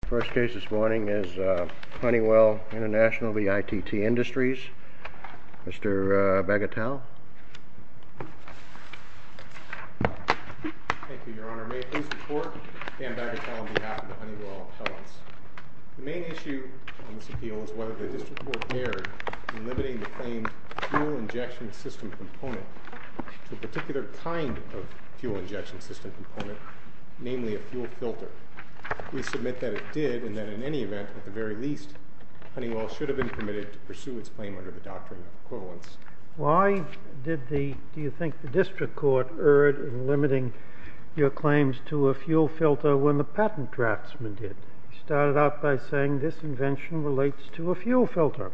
The first case this morning is Honeywell Intl v. ITT Industries. Mr. Bagatel. Thank you, your honor. May it please the court, Dan Bagatel on behalf of the Honeywell appellants. The main issue on this appeal is whether the district will adhere to limiting the claimed fuel injection system component to a particular kind of fuel injection system component, namely a fuel filter. We submit that it did, and that in any event, at the very least, Honeywell should have been permitted to pursue its claim under the doctrine of equivalence. Why do you think the district court erred in limiting your claims to a fuel filter when the patent draftsman did? He started out by saying this invention relates to a fuel filter.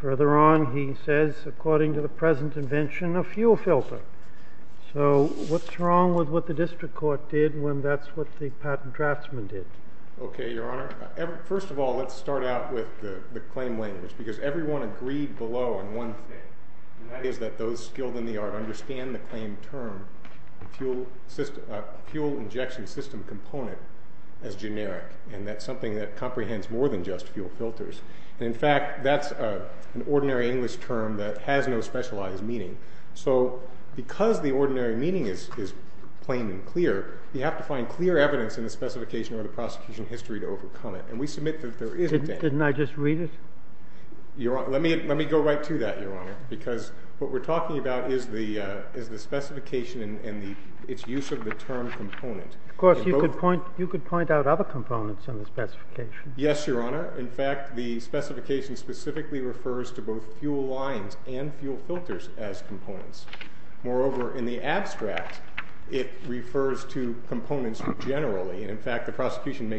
Further on, he says, according to the present invention, a fuel filter. So what's wrong with what the district court did when that's what the patent draftsman did? Okay, your honor. First of all, let's start out with the claim language, because everyone agreed below on one thing, and that is that those skilled in the art understand the claim term fuel injection system component as generic, and that's something that comprehends more than just fuel filters. And in fact, that's an ordinary English term that has no specialized meaning. So because the ordinary meaning is plain and clear, you have to find clear evidence in the specification or the prosecution history to overcome it, and we submit that there isn't any. Didn't I just read it? Let me go right to that, your honor, because what we're talking about is the specification and its use of the term component. Of course, you could point out other components in the specification. Yes, your honor. In fact, the specification specifically refers to both fuel lines and fuel filters as components. Moreover, in the abstract, it refers to components generally. And in fact, the prosecution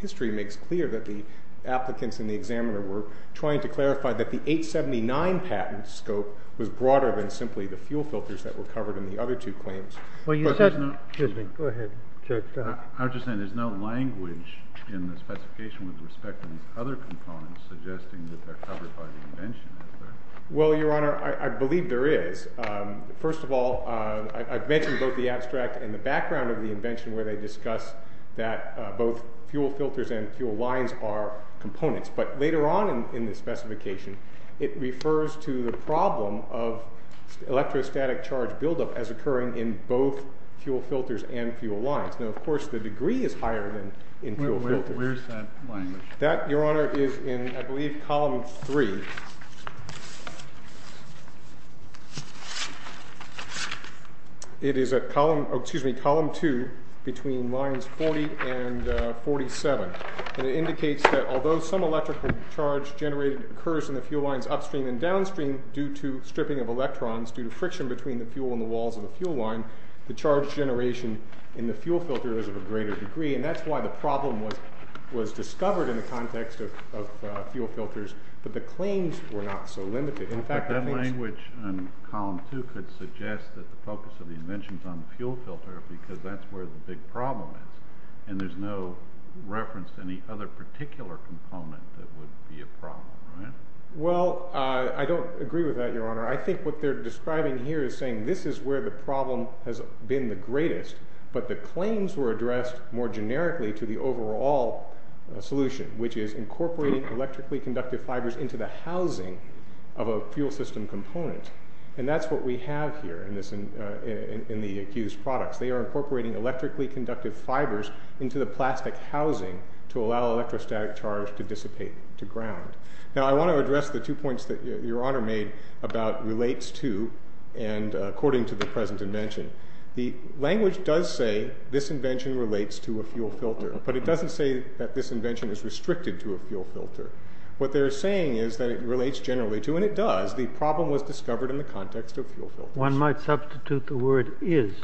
history makes clear that the applicants in the examiner were trying to clarify that the 879 patent scope was broader than simply the fuel filters that were covered in the other two claims. Excuse me. Go ahead. I'm just saying there's no language in the specification with respect to these other components suggesting that they're covered by the invention. Well, your honor, I believe there is. First of all, I've mentioned both the abstract and the background of the invention where they discuss that both fuel filters and fuel lines are components. But later on in the specification, it refers to the problem of electrostatic charge buildup as occurring in both fuel filters and fuel lines. Now, of course, the degree is higher than in fuel filters. Where's that language? That, your honor, is in, I believe, column three. It is at column two between lines 40 and 47. And it indicates that although some electrical charge generated occurs in the fuel lines upstream and downstream due to stripping of electrons, due to friction between the fuel and the walls of the fuel line, the charge generation in the fuel filter is of a greater degree. And that's why the problem was discovered in the context of fuel filters. But the claims were not so limited. In fact, that language in column two could suggest that the focus of the invention is on the fuel filter because that's where the big problem is. And there's no reference to any other particular component that would be a problem, right? Well, I don't agree with that, your honor. I think what they're describing here is saying this is where the problem has been the greatest. But the claims were addressed more generically to the overall solution, which is incorporating electrically conductive fibers into the housing of a fuel system component. And that's what we have here in the accused products. They are incorporating electrically conductive fibers into the plastic housing to allow electrostatic charge to dissipate to ground. Now, I want to address the two points that your honor made about relates to and according to the present invention. The language does say this invention relates to a fuel filter, but it doesn't say that this invention is restricted to a fuel filter. What they're saying is that it relates generally to, and it does, the problem was discovered in the context of fuel filters. One might substitute the word is.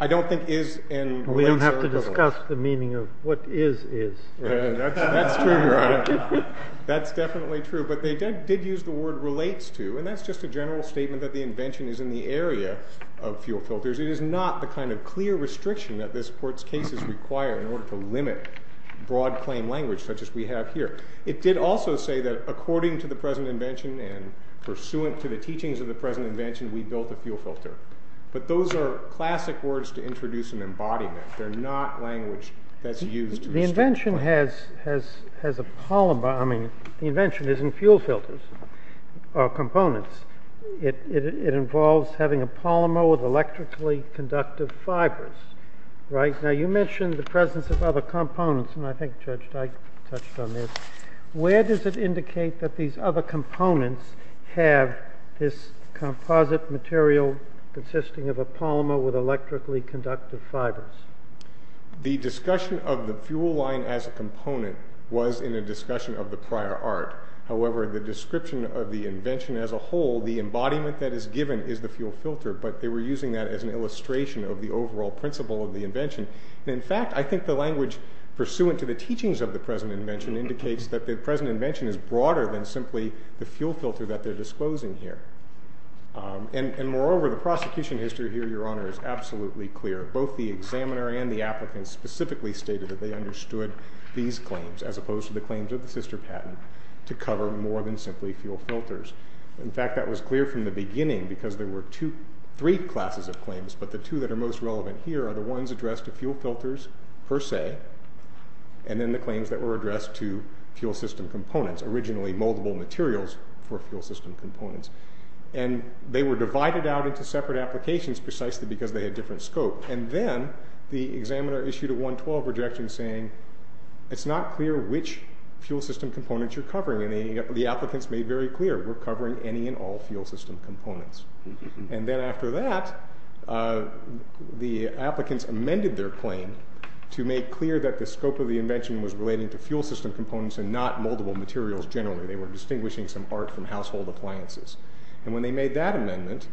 I don't think is and relates are equal. We don't have to discuss the meaning of what is is. That's true, your honor. That's definitely true. But they did use the word relates to, and that's just a general statement that the invention is in the area of fuel filters. It is not the kind of clear restriction that this court's case is required in order to limit broad claim language such as we have here. It did also say that according to the present invention and pursuant to the teachings of the present invention, we built a fuel filter. But those are classic words to introduce an embodiment. They're not language that's used. The invention has a polymer. I mean, the invention isn't fuel filters or components. It involves having a polymer with electrically conductive fibers. Right. Now you mentioned the presence of other components, and I think Judge Dyke touched on this. Where does it indicate that these other components have this composite material consisting of a polymer with electrically conductive fibers? The discussion of the fuel line as a component was in a discussion of the prior art. However, the description of the invention as a whole, the embodiment that is given is the fuel filter. But they were using that as an illustration of the overall principle of the invention. In fact, I think the language pursuant to the teachings of the present invention indicates that the present invention is broader than simply the fuel filter that they're disclosing here. And moreover, the prosecution history here, Your Honor, is absolutely clear. Both the examiner and the applicant specifically stated that they understood these claims as opposed to the claims of the sister patent to cover more than simply fuel filters. In fact, that was clear from the beginning because there were three classes of claims, but the two that are most relevant here are the ones addressed to fuel filters per se, and then the claims that were addressed to fuel system components, originally moldable materials for fuel system components. And they were divided out into separate applications precisely because they had different scope. And then the examiner issued a 112 rejection saying, it's not clear which fuel system components you're covering. And the applicants made very clear, we're covering any and all fuel system components. And then after that, the applicants amended their claim to make clear that the scope of the invention was relating to fuel system components and not moldable materials generally. They were distinguishing some art from household appliances. And when they made that amendment,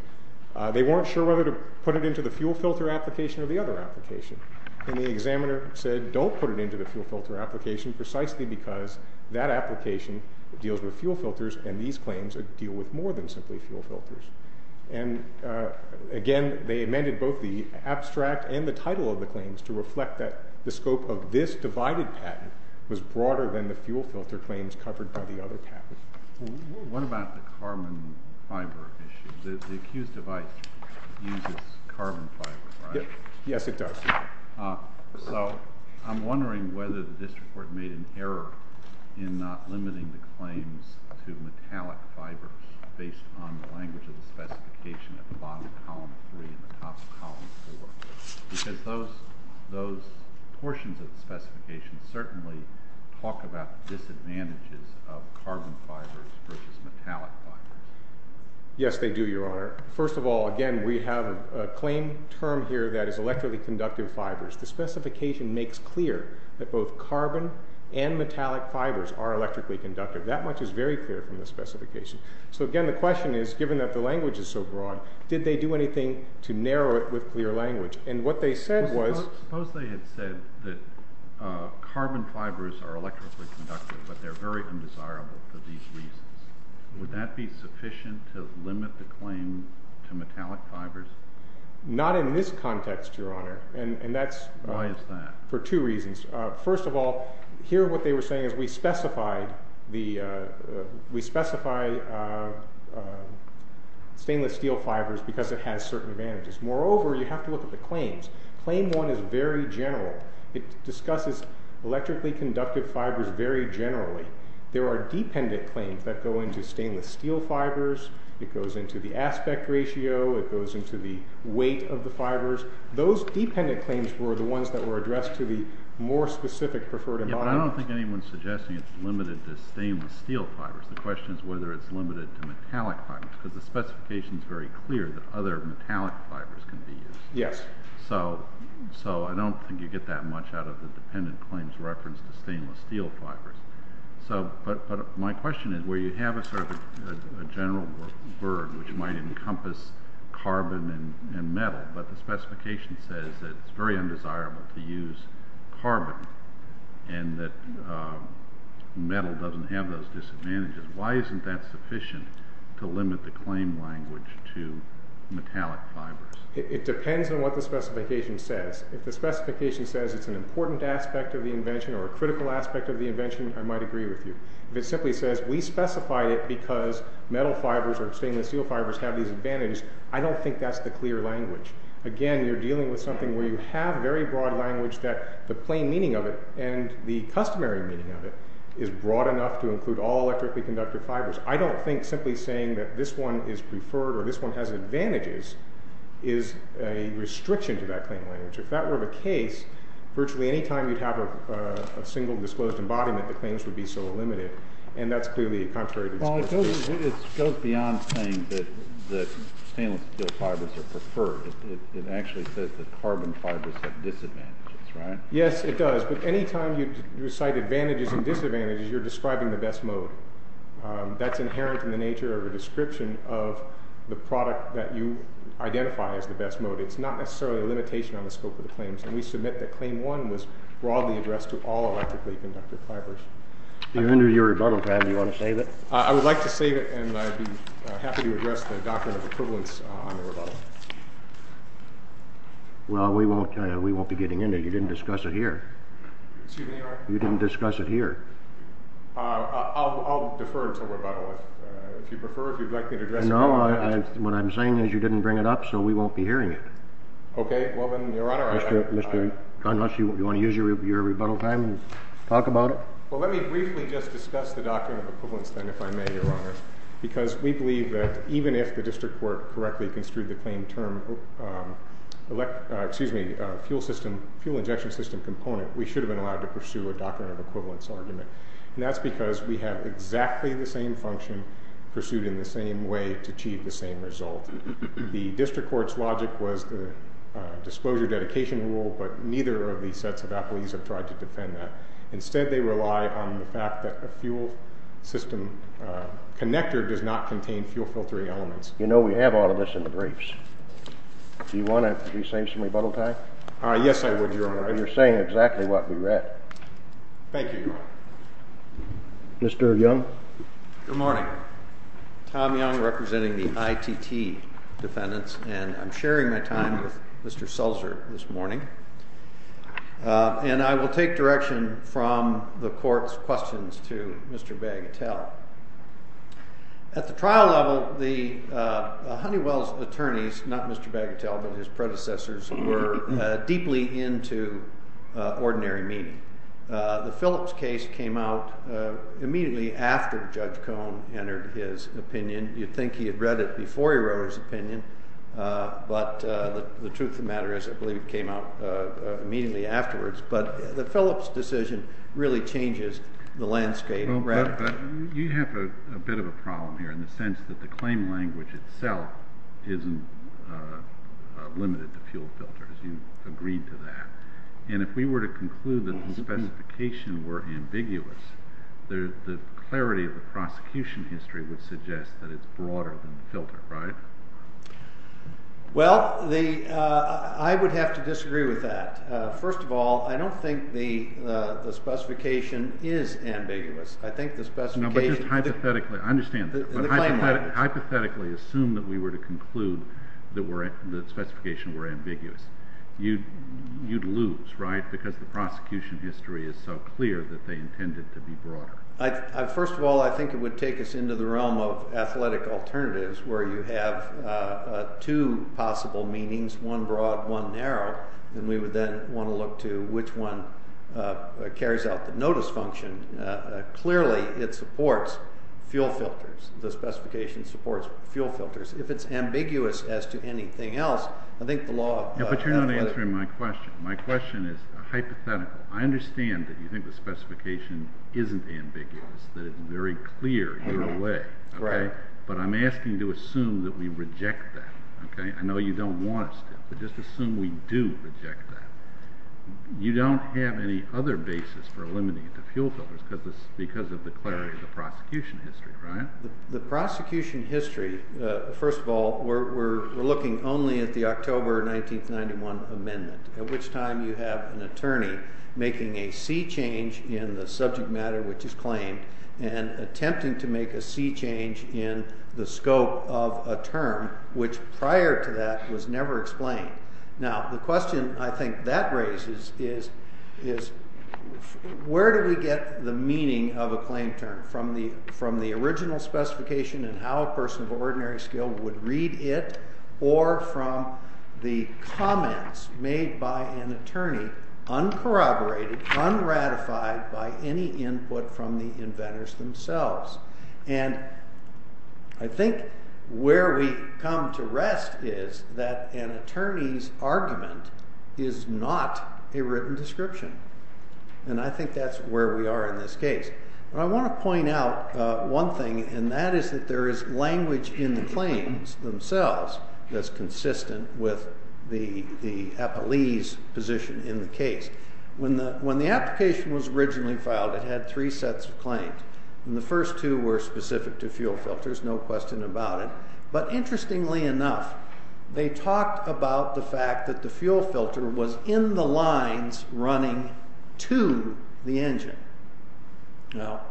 they weren't sure whether to put it into the fuel filter application or the other application. And the examiner said, don't put it into the fuel filter application precisely because that application deals with fuel filters and these claims deal with more than simply fuel filters. And again, they amended both the abstract and the title of the claims to reflect that the scope of this divided patent was broader than the fuel filter claims covered by the other patent. What about the carbon fiber issue? The accused device uses carbon fiber, right? Yes, it does. So I'm wondering whether the district court made an error in not limiting the claims to metallic fibers based on the language of the specification at the bottom of column 3 and the top of column 4. Because those portions of the specification certainly talk about disadvantages of carbon fibers versus metallic fibers. Yes, they do, Your Honor. First of all, again, we have a claim term here that is electrically conductive fibers. The specification makes clear that both carbon and metallic fibers are electrically conductive. That much is very clear from the specification. So, again, the question is, given that the language is so broad, did they do anything to narrow it with clear language? And what they said was— Suppose they had said that carbon fibers are electrically conductive, but they're very undesirable for these reasons. Would that be sufficient to limit the claim to metallic fibers? Not in this context, Your Honor. And that's— Why is that? For two reasons. First of all, here what they were saying is we specify stainless steel fibers because it has certain advantages. Moreover, you have to look at the claims. Claim 1 is very general. It discusses electrically conductive fibers very generally. There are dependent claims that go into stainless steel fibers. It goes into the aspect ratio. It goes into the weight of the fibers. Those dependent claims were the ones that were addressed to the more specific preferred environment. Yeah, but I don't think anyone is suggesting it's limited to stainless steel fibers. The question is whether it's limited to metallic fibers because the specification is very clear that other metallic fibers can be used. Yes. So I don't think you get that much out of the dependent claims referenced to stainless steel fibers. But my question is where you have a sort of general verb which might encompass carbon and metal, but the specification says that it's very undesirable to use carbon and that metal doesn't have those disadvantages, why isn't that sufficient to limit the claim language to metallic fibers? It depends on what the specification says. If the specification says it's an important aspect of the invention or a critical aspect of the invention, I might agree with you. If it simply says we specified it because metal fibers or stainless steel fibers have these advantages, I don't think that's the clear language. Again, you're dealing with something where you have very broad language that the plain meaning of it and the customary meaning of it is broad enough to include all electrically conductive fibers. I don't think simply saying that this one is preferred or this one has advantages is a restriction to that claim language. If that were the case, virtually any time you'd have a single disclosed embodiment, the claims would be so limited, and that's clearly contrary to the specification. Well, it goes beyond saying that stainless steel fibers are preferred. It actually says that carbon fibers have disadvantages, right? Yes, it does. But any time you cite advantages and disadvantages, you're describing the best mode. That's inherent in the nature of a description of the product that you identify as the best mode. It's not necessarily a limitation on the scope of the claims, and we submit that Claim 1 was broadly addressed to all electrically conductive fibers. Do you want to save it? I would like to save it, and I'd be happy to address the doctrine of equivalence on the rebuttal. Well, we won't be getting into it. You didn't discuss it here. You didn't discuss it here. I'll defer to rebuttal. If you prefer, if you'd like me to address it here. No, what I'm saying is you didn't bring it up, so we won't be hearing it. Okay. Well, then, Your Honor, unless you want to use your rebuttal time and talk about it. Well, let me briefly just discuss the doctrine of equivalence then, if I may, Your Honor, because we believe that even if the district court correctly construed the claim term fuel injection system component, we should have been allowed to pursue a doctrine of equivalence argument. And that's because we have exactly the same function pursued in the same way to achieve the same result. The district court's logic was the disclosure dedication rule, but neither of these sets of appellees have tried to defend that. Instead, they rely on the fact that a fuel system connector does not contain fuel filtering elements. You know, we have all of this in the briefs. Do you want to save some rebuttal time? Yes, I would, Your Honor. You're saying exactly what we read. Thank you, Your Honor. Mr. Young? Good morning. Tom Young representing the ITT defendants, and I'm sharing my time with Mr. Sulzer this morning. And I will take direction from the court's questions to Mr. Bagatelle. At the trial level, the Honeywell's attorneys, not Mr. Bagatelle, but his predecessors, were deeply into ordinary meaning. The Phillips case came out immediately after Judge Cohn entered his opinion. You'd think he had read it before he wrote his opinion, but the truth of the matter is I believe it came out immediately afterwards. But the Phillips decision really changes the landscape radically. You have a bit of a problem here in the sense that the claim language itself isn't limited to fuel filters. You've agreed to that. And if we were to conclude that the specifications were ambiguous, the clarity of the prosecution history would suggest that it's broader than the filter, right? Well, I would have to disagree with that. First of all, I don't think the specification is ambiguous. No, but just hypothetically. I understand that. But hypothetically assume that we were to conclude that the specifications were ambiguous. You'd lose, right, because the prosecution history is so clear that they intended to be broader. First of all, I think it would take us into the realm of athletic alternatives where you have two possible meanings, one broad, one narrow, and we would then want to look to which one carries out the notice function. Clearly, it supports fuel filters. The specification supports fuel filters. If it's ambiguous as to anything else, I think the law— But you're not answering my question. My question is hypothetical. I understand that you think the specification isn't ambiguous, that it's very clear in a way. Right. But I'm asking you to assume that we reject that. I know you don't want us to, but just assume we do reject that. You don't have any other basis for eliminating it to fuel filters because of the clarity of the prosecution history, right? The prosecution history, first of all, we're looking only at the October 1991 amendment, at which time you have an attorney making a sea change in the subject matter which is claimed and attempting to make a sea change in the scope of a term which prior to that was never explained. Now, the question I think that raises is where do we get the meaning of a claim term, from the original specification and how a person of ordinary skill would read it or from the comments made by an attorney uncorroborated, unratified by any input from the inventors themselves. And I think where we come to rest is that an attorney's argument is not a written description. And I think that's where we are in this case. But I want to point out one thing, and that is that there is language in the claims themselves that's consistent with the appellee's position in the case. When the application was originally filed, it had three sets of claims, and the first two were specific to fuel filters, no question about it. But interestingly enough, they talked about the fact that the fuel filter was in the lines running to the engine. Now,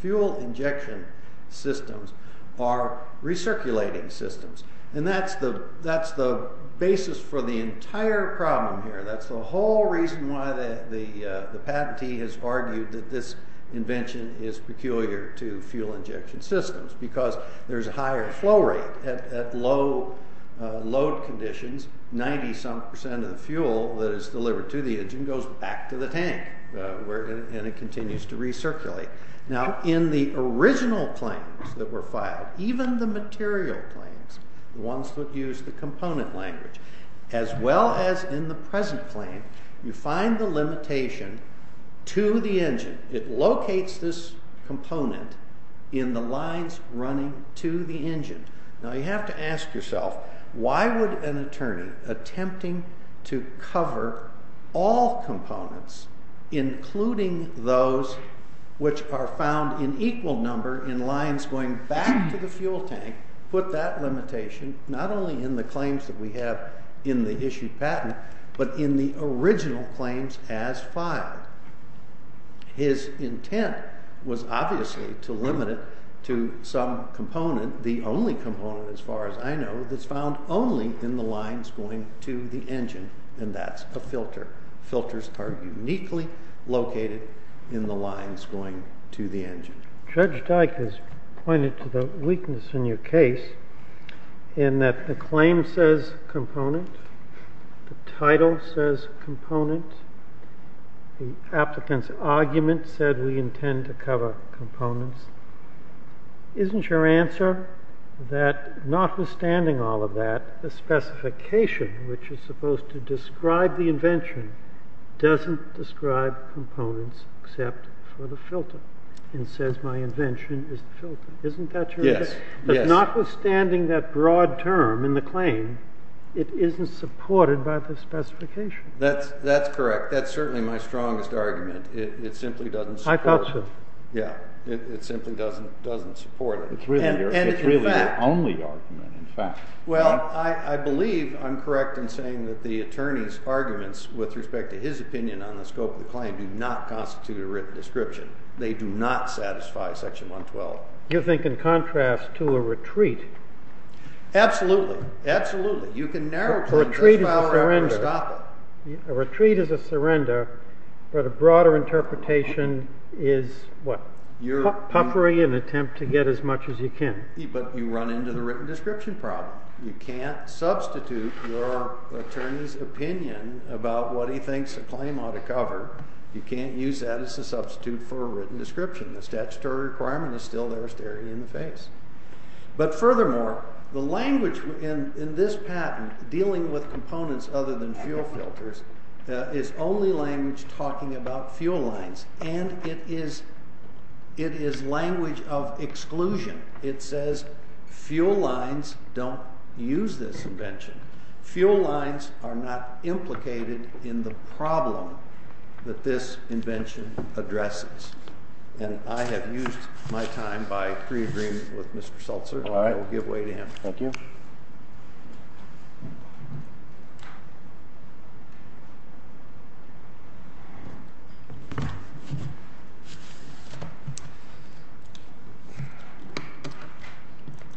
fuel injection systems are recirculating systems. And that's the basis for the entire problem here. That's the whole reason why the patentee has argued that this invention is peculiar to fuel injection systems because there's a higher flow rate at low load conditions. Ninety-some percent of the fuel that is delivered to the engine goes back to the tank, and it continues to recirculate. Now, in the original claims that were filed, even the material claims, the ones that use the component language, as well as in the present claim, you find the limitation to the engine. It locates this component in the lines running to the engine. Now, you have to ask yourself, why would an attorney attempting to cover all components, including those which are found in equal number in lines going back to the fuel tank, put that limitation not only in the claims that we have in the issued patent, but in the original claims as filed? His intent was obviously to limit it to some component, the only component as far as I know, that's found only in the lines going to the engine, and that's a filter. Filters are uniquely located in the lines going to the engine. Judge Dyke has pointed to the weakness in your case in that the claim says component, the title says component, the applicant's argument said we intend to cover components. Isn't your answer that notwithstanding all of that, the specification which is supposed to describe the invention doesn't describe components except for the filter and says my invention is the filter? Isn't that your answer? Yes. But notwithstanding that broad term in the claim, it isn't supported by the specification. That's correct. That's certainly my strongest argument. It simply doesn't support it. I thought so. Yeah. It simply doesn't support it. It's really your only argument, in fact. Well, I believe I'm correct in saying that the attorney's arguments with respect to his opinion on the scope of the claim do not constitute a written description. They do not satisfy section 112. You think in contrast to a retreat? Absolutely. Absolutely. You can narrow claims as far as to stop it. A retreat is a surrender, but a broader interpretation is what? Puffery in an attempt to get as much as you can. But you run into the written description problem. You can't substitute your attorney's opinion about what he thinks a claim ought to cover. You can't use that as a substitute for a written description. The statutory requirement is still there staring you in the face. But furthermore, the language in this patent dealing with components other than fuel filters is only language talking about fuel lines, and it is language of exclusion. It says fuel lines don't use this invention. Fuel lines are not implicated in the problem that this invention addresses. And I have used my time by pre-agreement with Mr. Seltzer. I will give way to him. Thank you.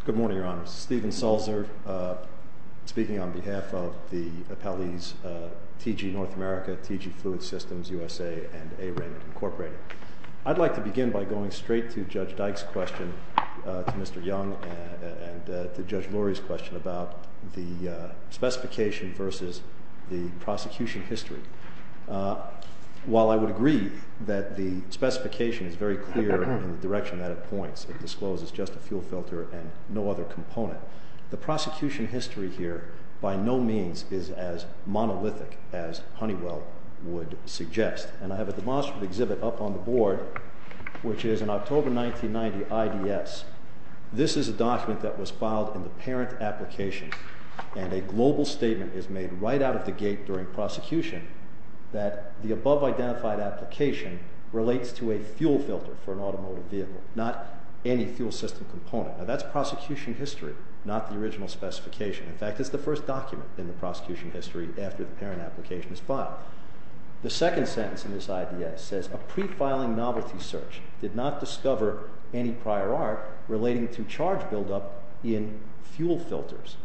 Good morning, Your Honor. Stephen Seltzer speaking on behalf of the appellees T.G. North America, T.G. Fluid Systems U.S.A. and A-Rank Incorporated. I'd like to begin by going straight to Judge Dyke's question, to Mr. Young, and to Judge Lurie's question about the specification versus the prosecution history. While I would agree that the specification is very clear in the direction that it points, it discloses just a fuel filter and no other component, the prosecution history here by no means is as monolithic as Honeywell would suggest. And I have a demonstrative exhibit up on the board, which is an October 1990 IDS. This is a document that was filed in the parent application, and a global statement is made right out of the gate during prosecution that the above-identified application relates to a fuel filter for an automotive vehicle, not any fuel system component. Now, that's prosecution history, not the original specification. In fact, it's the first document in the prosecution history after the parent application is filed. The second sentence in this IDS says, A pre-filing novelty search did not discover any prior art relating to charge buildup in fuel filters.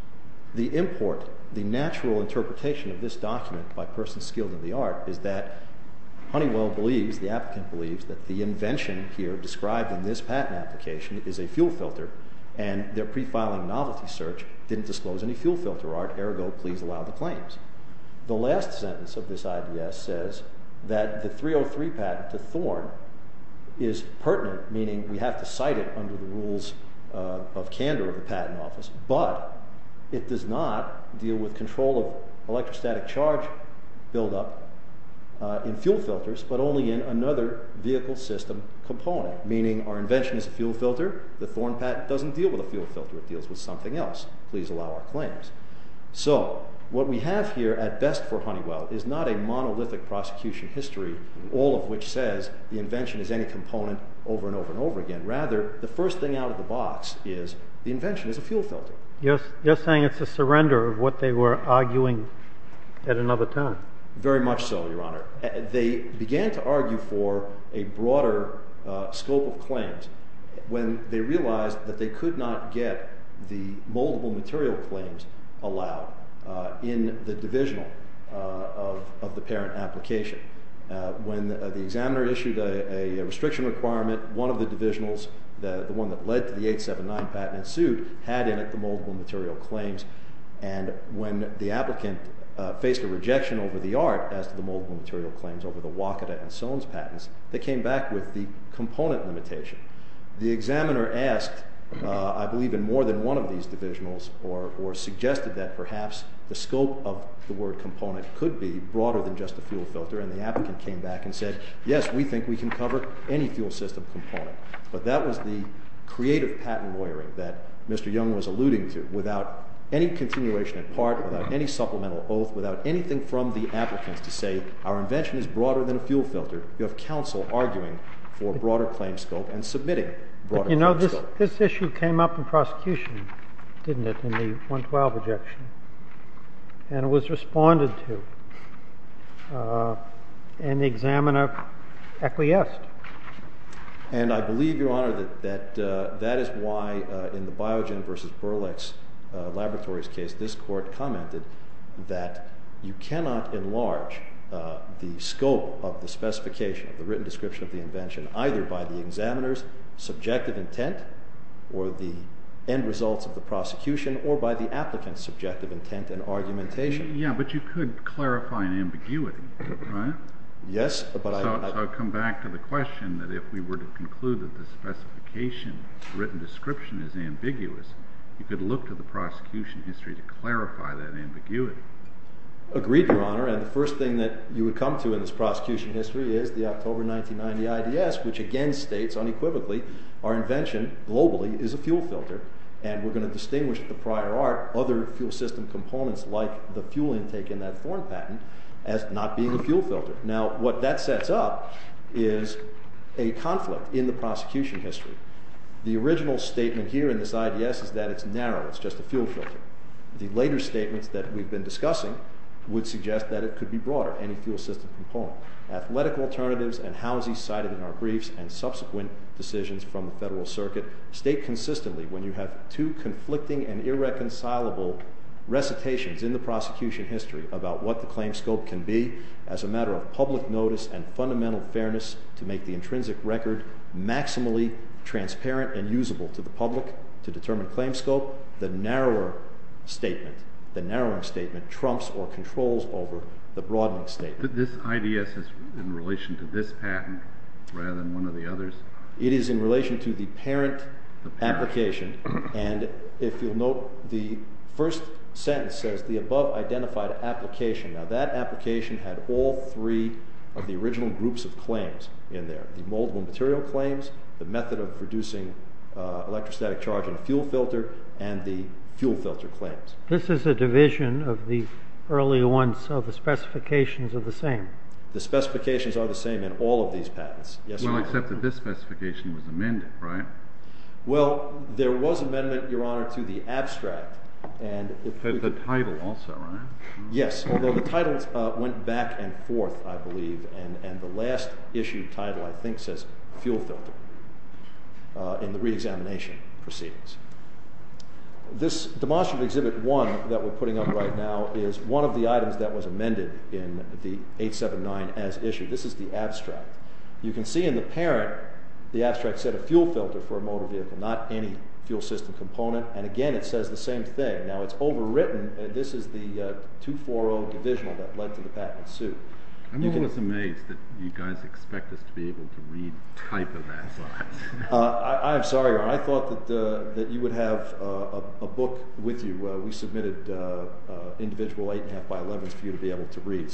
The import, the natural interpretation of this document by persons skilled in the art, is that Honeywell believes, the applicant believes, that the invention here described in this patent application is a fuel filter, and their pre-filing novelty search didn't disclose any fuel filter art, ergo, please allow the claims. The last sentence of this IDS says that the 303 patent to Thorne is pertinent, meaning we have to cite it under the rules of candor of the patent office, but it does not deal with control of electrostatic charge buildup in fuel filters, but only in another vehicle system component, meaning our invention is a fuel filter. The Thorne patent doesn't deal with a fuel filter. It deals with something else. Please allow our claims. So, what we have here at best for Honeywell is not a monolithic prosecution history, all of which says the invention is any component over and over and over again. Rather, the first thing out of the box is the invention is a fuel filter. You're saying it's a surrender of what they were arguing at another time. Very much so, Your Honor. They began to argue for a broader scope of claims when they realized that they could not get the moldable material claims allowed in the divisional of the parent application. When the examiner issued a restriction requirement, one of the divisionals, the one that led to the 879 patent ensued, had in it the moldable material claims, and when the applicant faced a rejection over the art as to the moldable material claims over the Wakata and Soane's patents, they came back with the component limitation. The examiner asked, I believe, in more than one of these divisionals or suggested that perhaps the scope of the word component could be broader than just a fuel filter, and the applicant came back and said, yes, we think we can cover any fuel system component. But that was the creative patent lawyering that Mr. Young was alluding to without any continuation in part, without any supplemental oath, without anything from the applicants to say, our invention is broader than a fuel filter. You have counsel arguing for a broader claim scope and submitting a broader claim scope. But you know, this issue came up in prosecution, didn't it, in the 112 objection, and it was responded to. And the examiner acquiesced. And I believe, Your Honor, that that is why in the Biogen versus Burlex Laboratories case this court commented that you cannot enlarge the scope of the specification, the written description of the invention, either by the examiner's subjective intent or the end results of the prosecution or by the applicant's subjective intent and argumentation. Yeah, but you could clarify an ambiguity, right? Yes, but I... So I come back to the question that if we were to conclude that the specification written description is ambiguous, you could look to the prosecution history to clarify that ambiguity. Agreed, Your Honor. And the first thing that you would come to in this prosecution history is the October 1990 IDS, which again states unequivocally our invention globally is a fuel filter, and we're going to distinguish at the prior art other fuel system components like the fuel intake in that foreign patent as not being a fuel filter. Now, what that sets up is a conflict in the prosecution history. The original statement here in this IDS is that it's narrow, it's just a fuel filter. The later statements that we've been discussing would suggest that it could be broader, any fuel system component. Athletic alternatives and houses cited in our briefs and subsequent decisions from the Federal Circuit state consistently when you have two conflicting and irreconcilable recitations in the prosecution history about what the claim scope can be as a matter of public notice and fundamental fairness to make the intrinsic record maximally transparent and usable to the public to determine claim scope. The narrower statement, the narrowing statement trumps or controls over the broadening statement. This IDS is in relation to this patent rather than one of the others? It is in relation to the parent application. And if you'll note, the first sentence says the above identified application. Now, that application had all three of the original groups of claims in there, the moldable material claims, the method of producing electrostatic charge in a fuel filter, and the fuel filter claims. This is a division of the early ones, so the specifications are the same? The specifications are the same in all of these patents. Well, except that this specification was amended, right? Well, there was amendment, Your Honor, to the abstract. The title also, right? Yes, although the titles went back and forth, I believe, and the last issued title, I think, says fuel filter in the reexamination proceedings. This demonstrative Exhibit 1 that we're putting up right now is one of the items that was amended in the 879 as issued. This is the abstract. You can see in the parent, the abstract said a fuel filter for a motor vehicle, not any fuel system component, and again, it says the same thing. Now, it's overwritten. This is the 240 divisional that led to the patent suit. I'm always amazed that you guys expect us to be able to read type of that. I'm sorry, Your Honor. I thought that you would have a book with you. We submitted individual 8.5x11s for you to be able to read.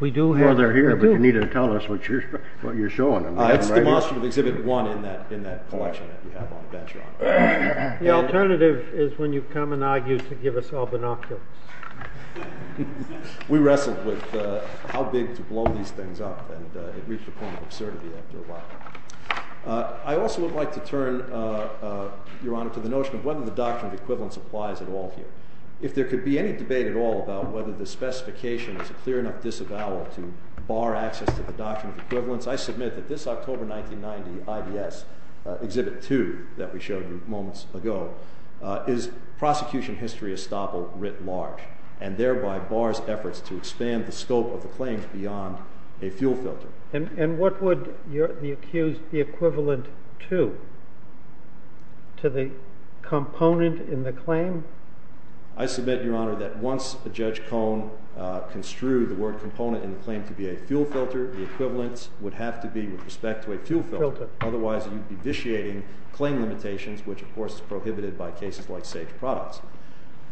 We do have them here, but you need to tell us what you're showing them. It's demonstrative Exhibit 1 in that collection that you have on the bench, Your Honor. The alternative is when you come and argue to give us all binoculars. We wrestled with how big to blow these things up, and it reached a point of absurdity after a while. I also would like to turn, Your Honor, to the notion of whether the Doctrine of Equivalence applies at all here. If there could be any debate at all about whether the specification is a clear enough disavowal to bar access to the Doctrine of Equivalence, I submit that this October 1990 IBS Exhibit 2 that we showed you moments ago is prosecution history estoppel writ large, and thereby bars efforts to expand the scope of the claims beyond a fuel filter. And what would the accused be equivalent to? To the component in the claim? I submit, Your Honor, that once Judge Cohn construed the word component in the claim to be a fuel filter, the equivalence would have to be with respect to a fuel filter. Otherwise, you'd be vitiating claim limitations, which, of course, is prohibited by cases like Sage Products.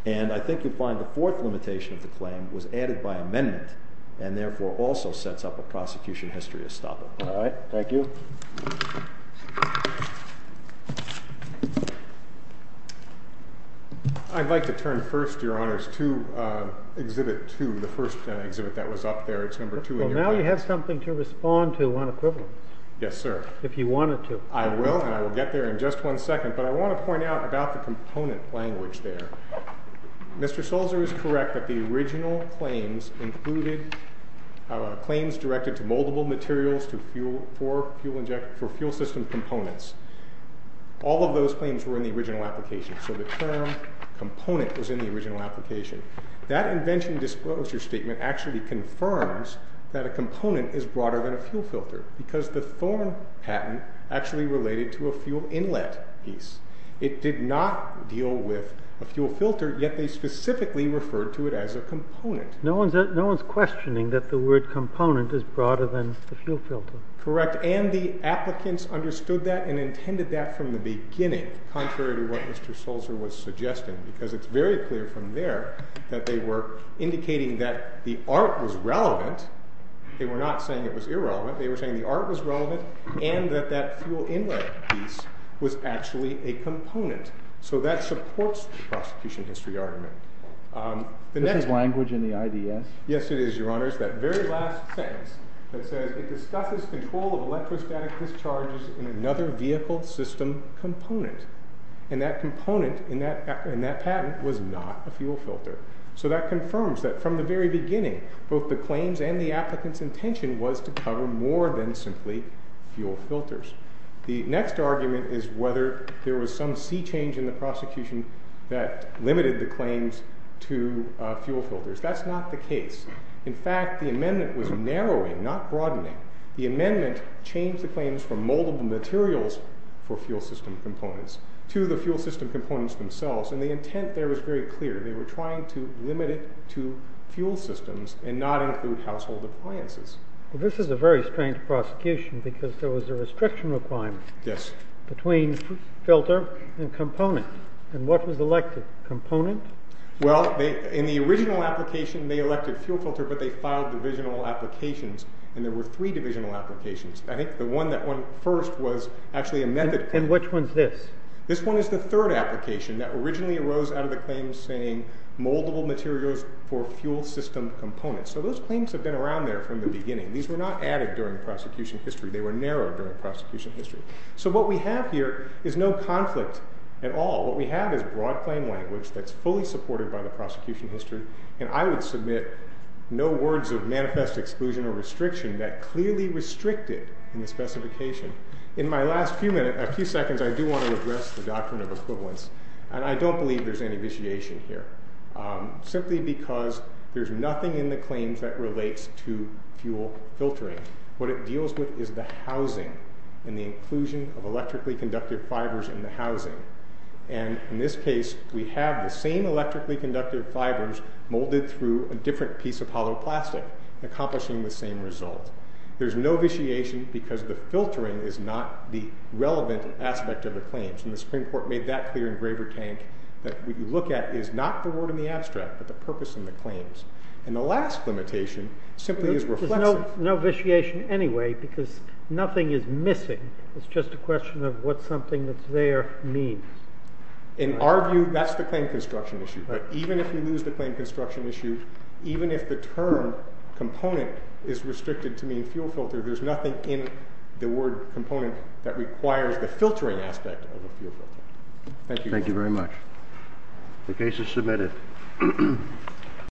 And I think you'll find the fourth limitation of the claim was added by amendment, and therefore also sets up a prosecution history estoppel. All right. Thank you. I'd like to turn first, Your Honors, to Exhibit 2, the first exhibit that was up there. It's number 2 in your package. Well, now you have something to respond to on equivalence. Yes, sir. If you wanted to. I will, and I will get there in just one second. But I want to point out about the component language there. Mr. Sulzer is correct that the original claims included claims directed to moldable materials for fuel system components. All of those claims were in the original application. So the term component was in the original application. That invention disclosure statement actually confirms that a component is broader than a fuel filter because the Thorne patent actually related to a fuel inlet piece. It did not deal with a fuel filter, yet they specifically referred to it as a component. No one's questioning that the word component is broader than the fuel filter. Correct. And the applicants understood that and intended that from the beginning, contrary to what Mr. Sulzer was suggesting, because it's very clear from there that they were indicating that the art was relevant. They were not saying it was irrelevant. They were saying the art was relevant and that that fuel inlet piece was actually a component. So that supports the prosecution history argument. Is this language in the IDS? Yes, it is, Your Honor. It's that very last sentence that says it discusses control of electrostatic discharges in another vehicle system component. And that component in that patent was not a fuel filter. So that confirms that from the very beginning, both the claims and the applicant's intention was to cover more than simply fuel filters. The next argument is whether there was some sea change in the prosecution that limited the claims to fuel filters. That's not the case. In fact, the amendment was narrowing, not broadening. The amendment changed the claims from multiple materials for fuel system components to the fuel system components themselves. And the intent there was very clear. They were trying to limit it to fuel systems and not include household appliances. This is a very strange prosecution because there was a restriction requirement between filter and component. And what was elected? Component? Well, in the original application, they elected fuel filter, but they filed divisional applications. And there were three divisional applications. I think the one that won first was actually a method claim. And which one's this? This one is the third application that originally arose out of the claims saying multiple materials for fuel system components. So those claims have been around there from the beginning. These were not added during the prosecution history. They were narrowed during the prosecution history. So what we have here is no conflict at all. What we have is broad claim language that's fully supported by the prosecution history. And I would submit no words of manifest exclusion or restriction that clearly restrict it in the specification. In my last few seconds, I do want to address the doctrine of equivalence. And I don't believe there's any vitiation here simply because there's nothing in the claims that relates to fuel filtering. What it deals with is the housing and the inclusion of electrically conducted fibers in the housing. And in this case, we have the same electrically conducted fibers molded through a different piece of hollow plastic, accomplishing the same result. There's no vitiation because the filtering is not the relevant aspect of the claims. And the Supreme Court made that clear in Graver Tank that what you look at is not the word in the abstract but the purpose in the claims. And the last limitation simply is reflexive. No vitiation anyway because nothing is missing. It's just a question of what something that's there means. In our view, that's the claim construction issue. Even if we lose the claim construction issue, even if the term component is restricted to mean fuel filter, there's nothing in the word component that requires the filtering aspect of a fuel filter. Thank you. Thank you very much. The case is submitted.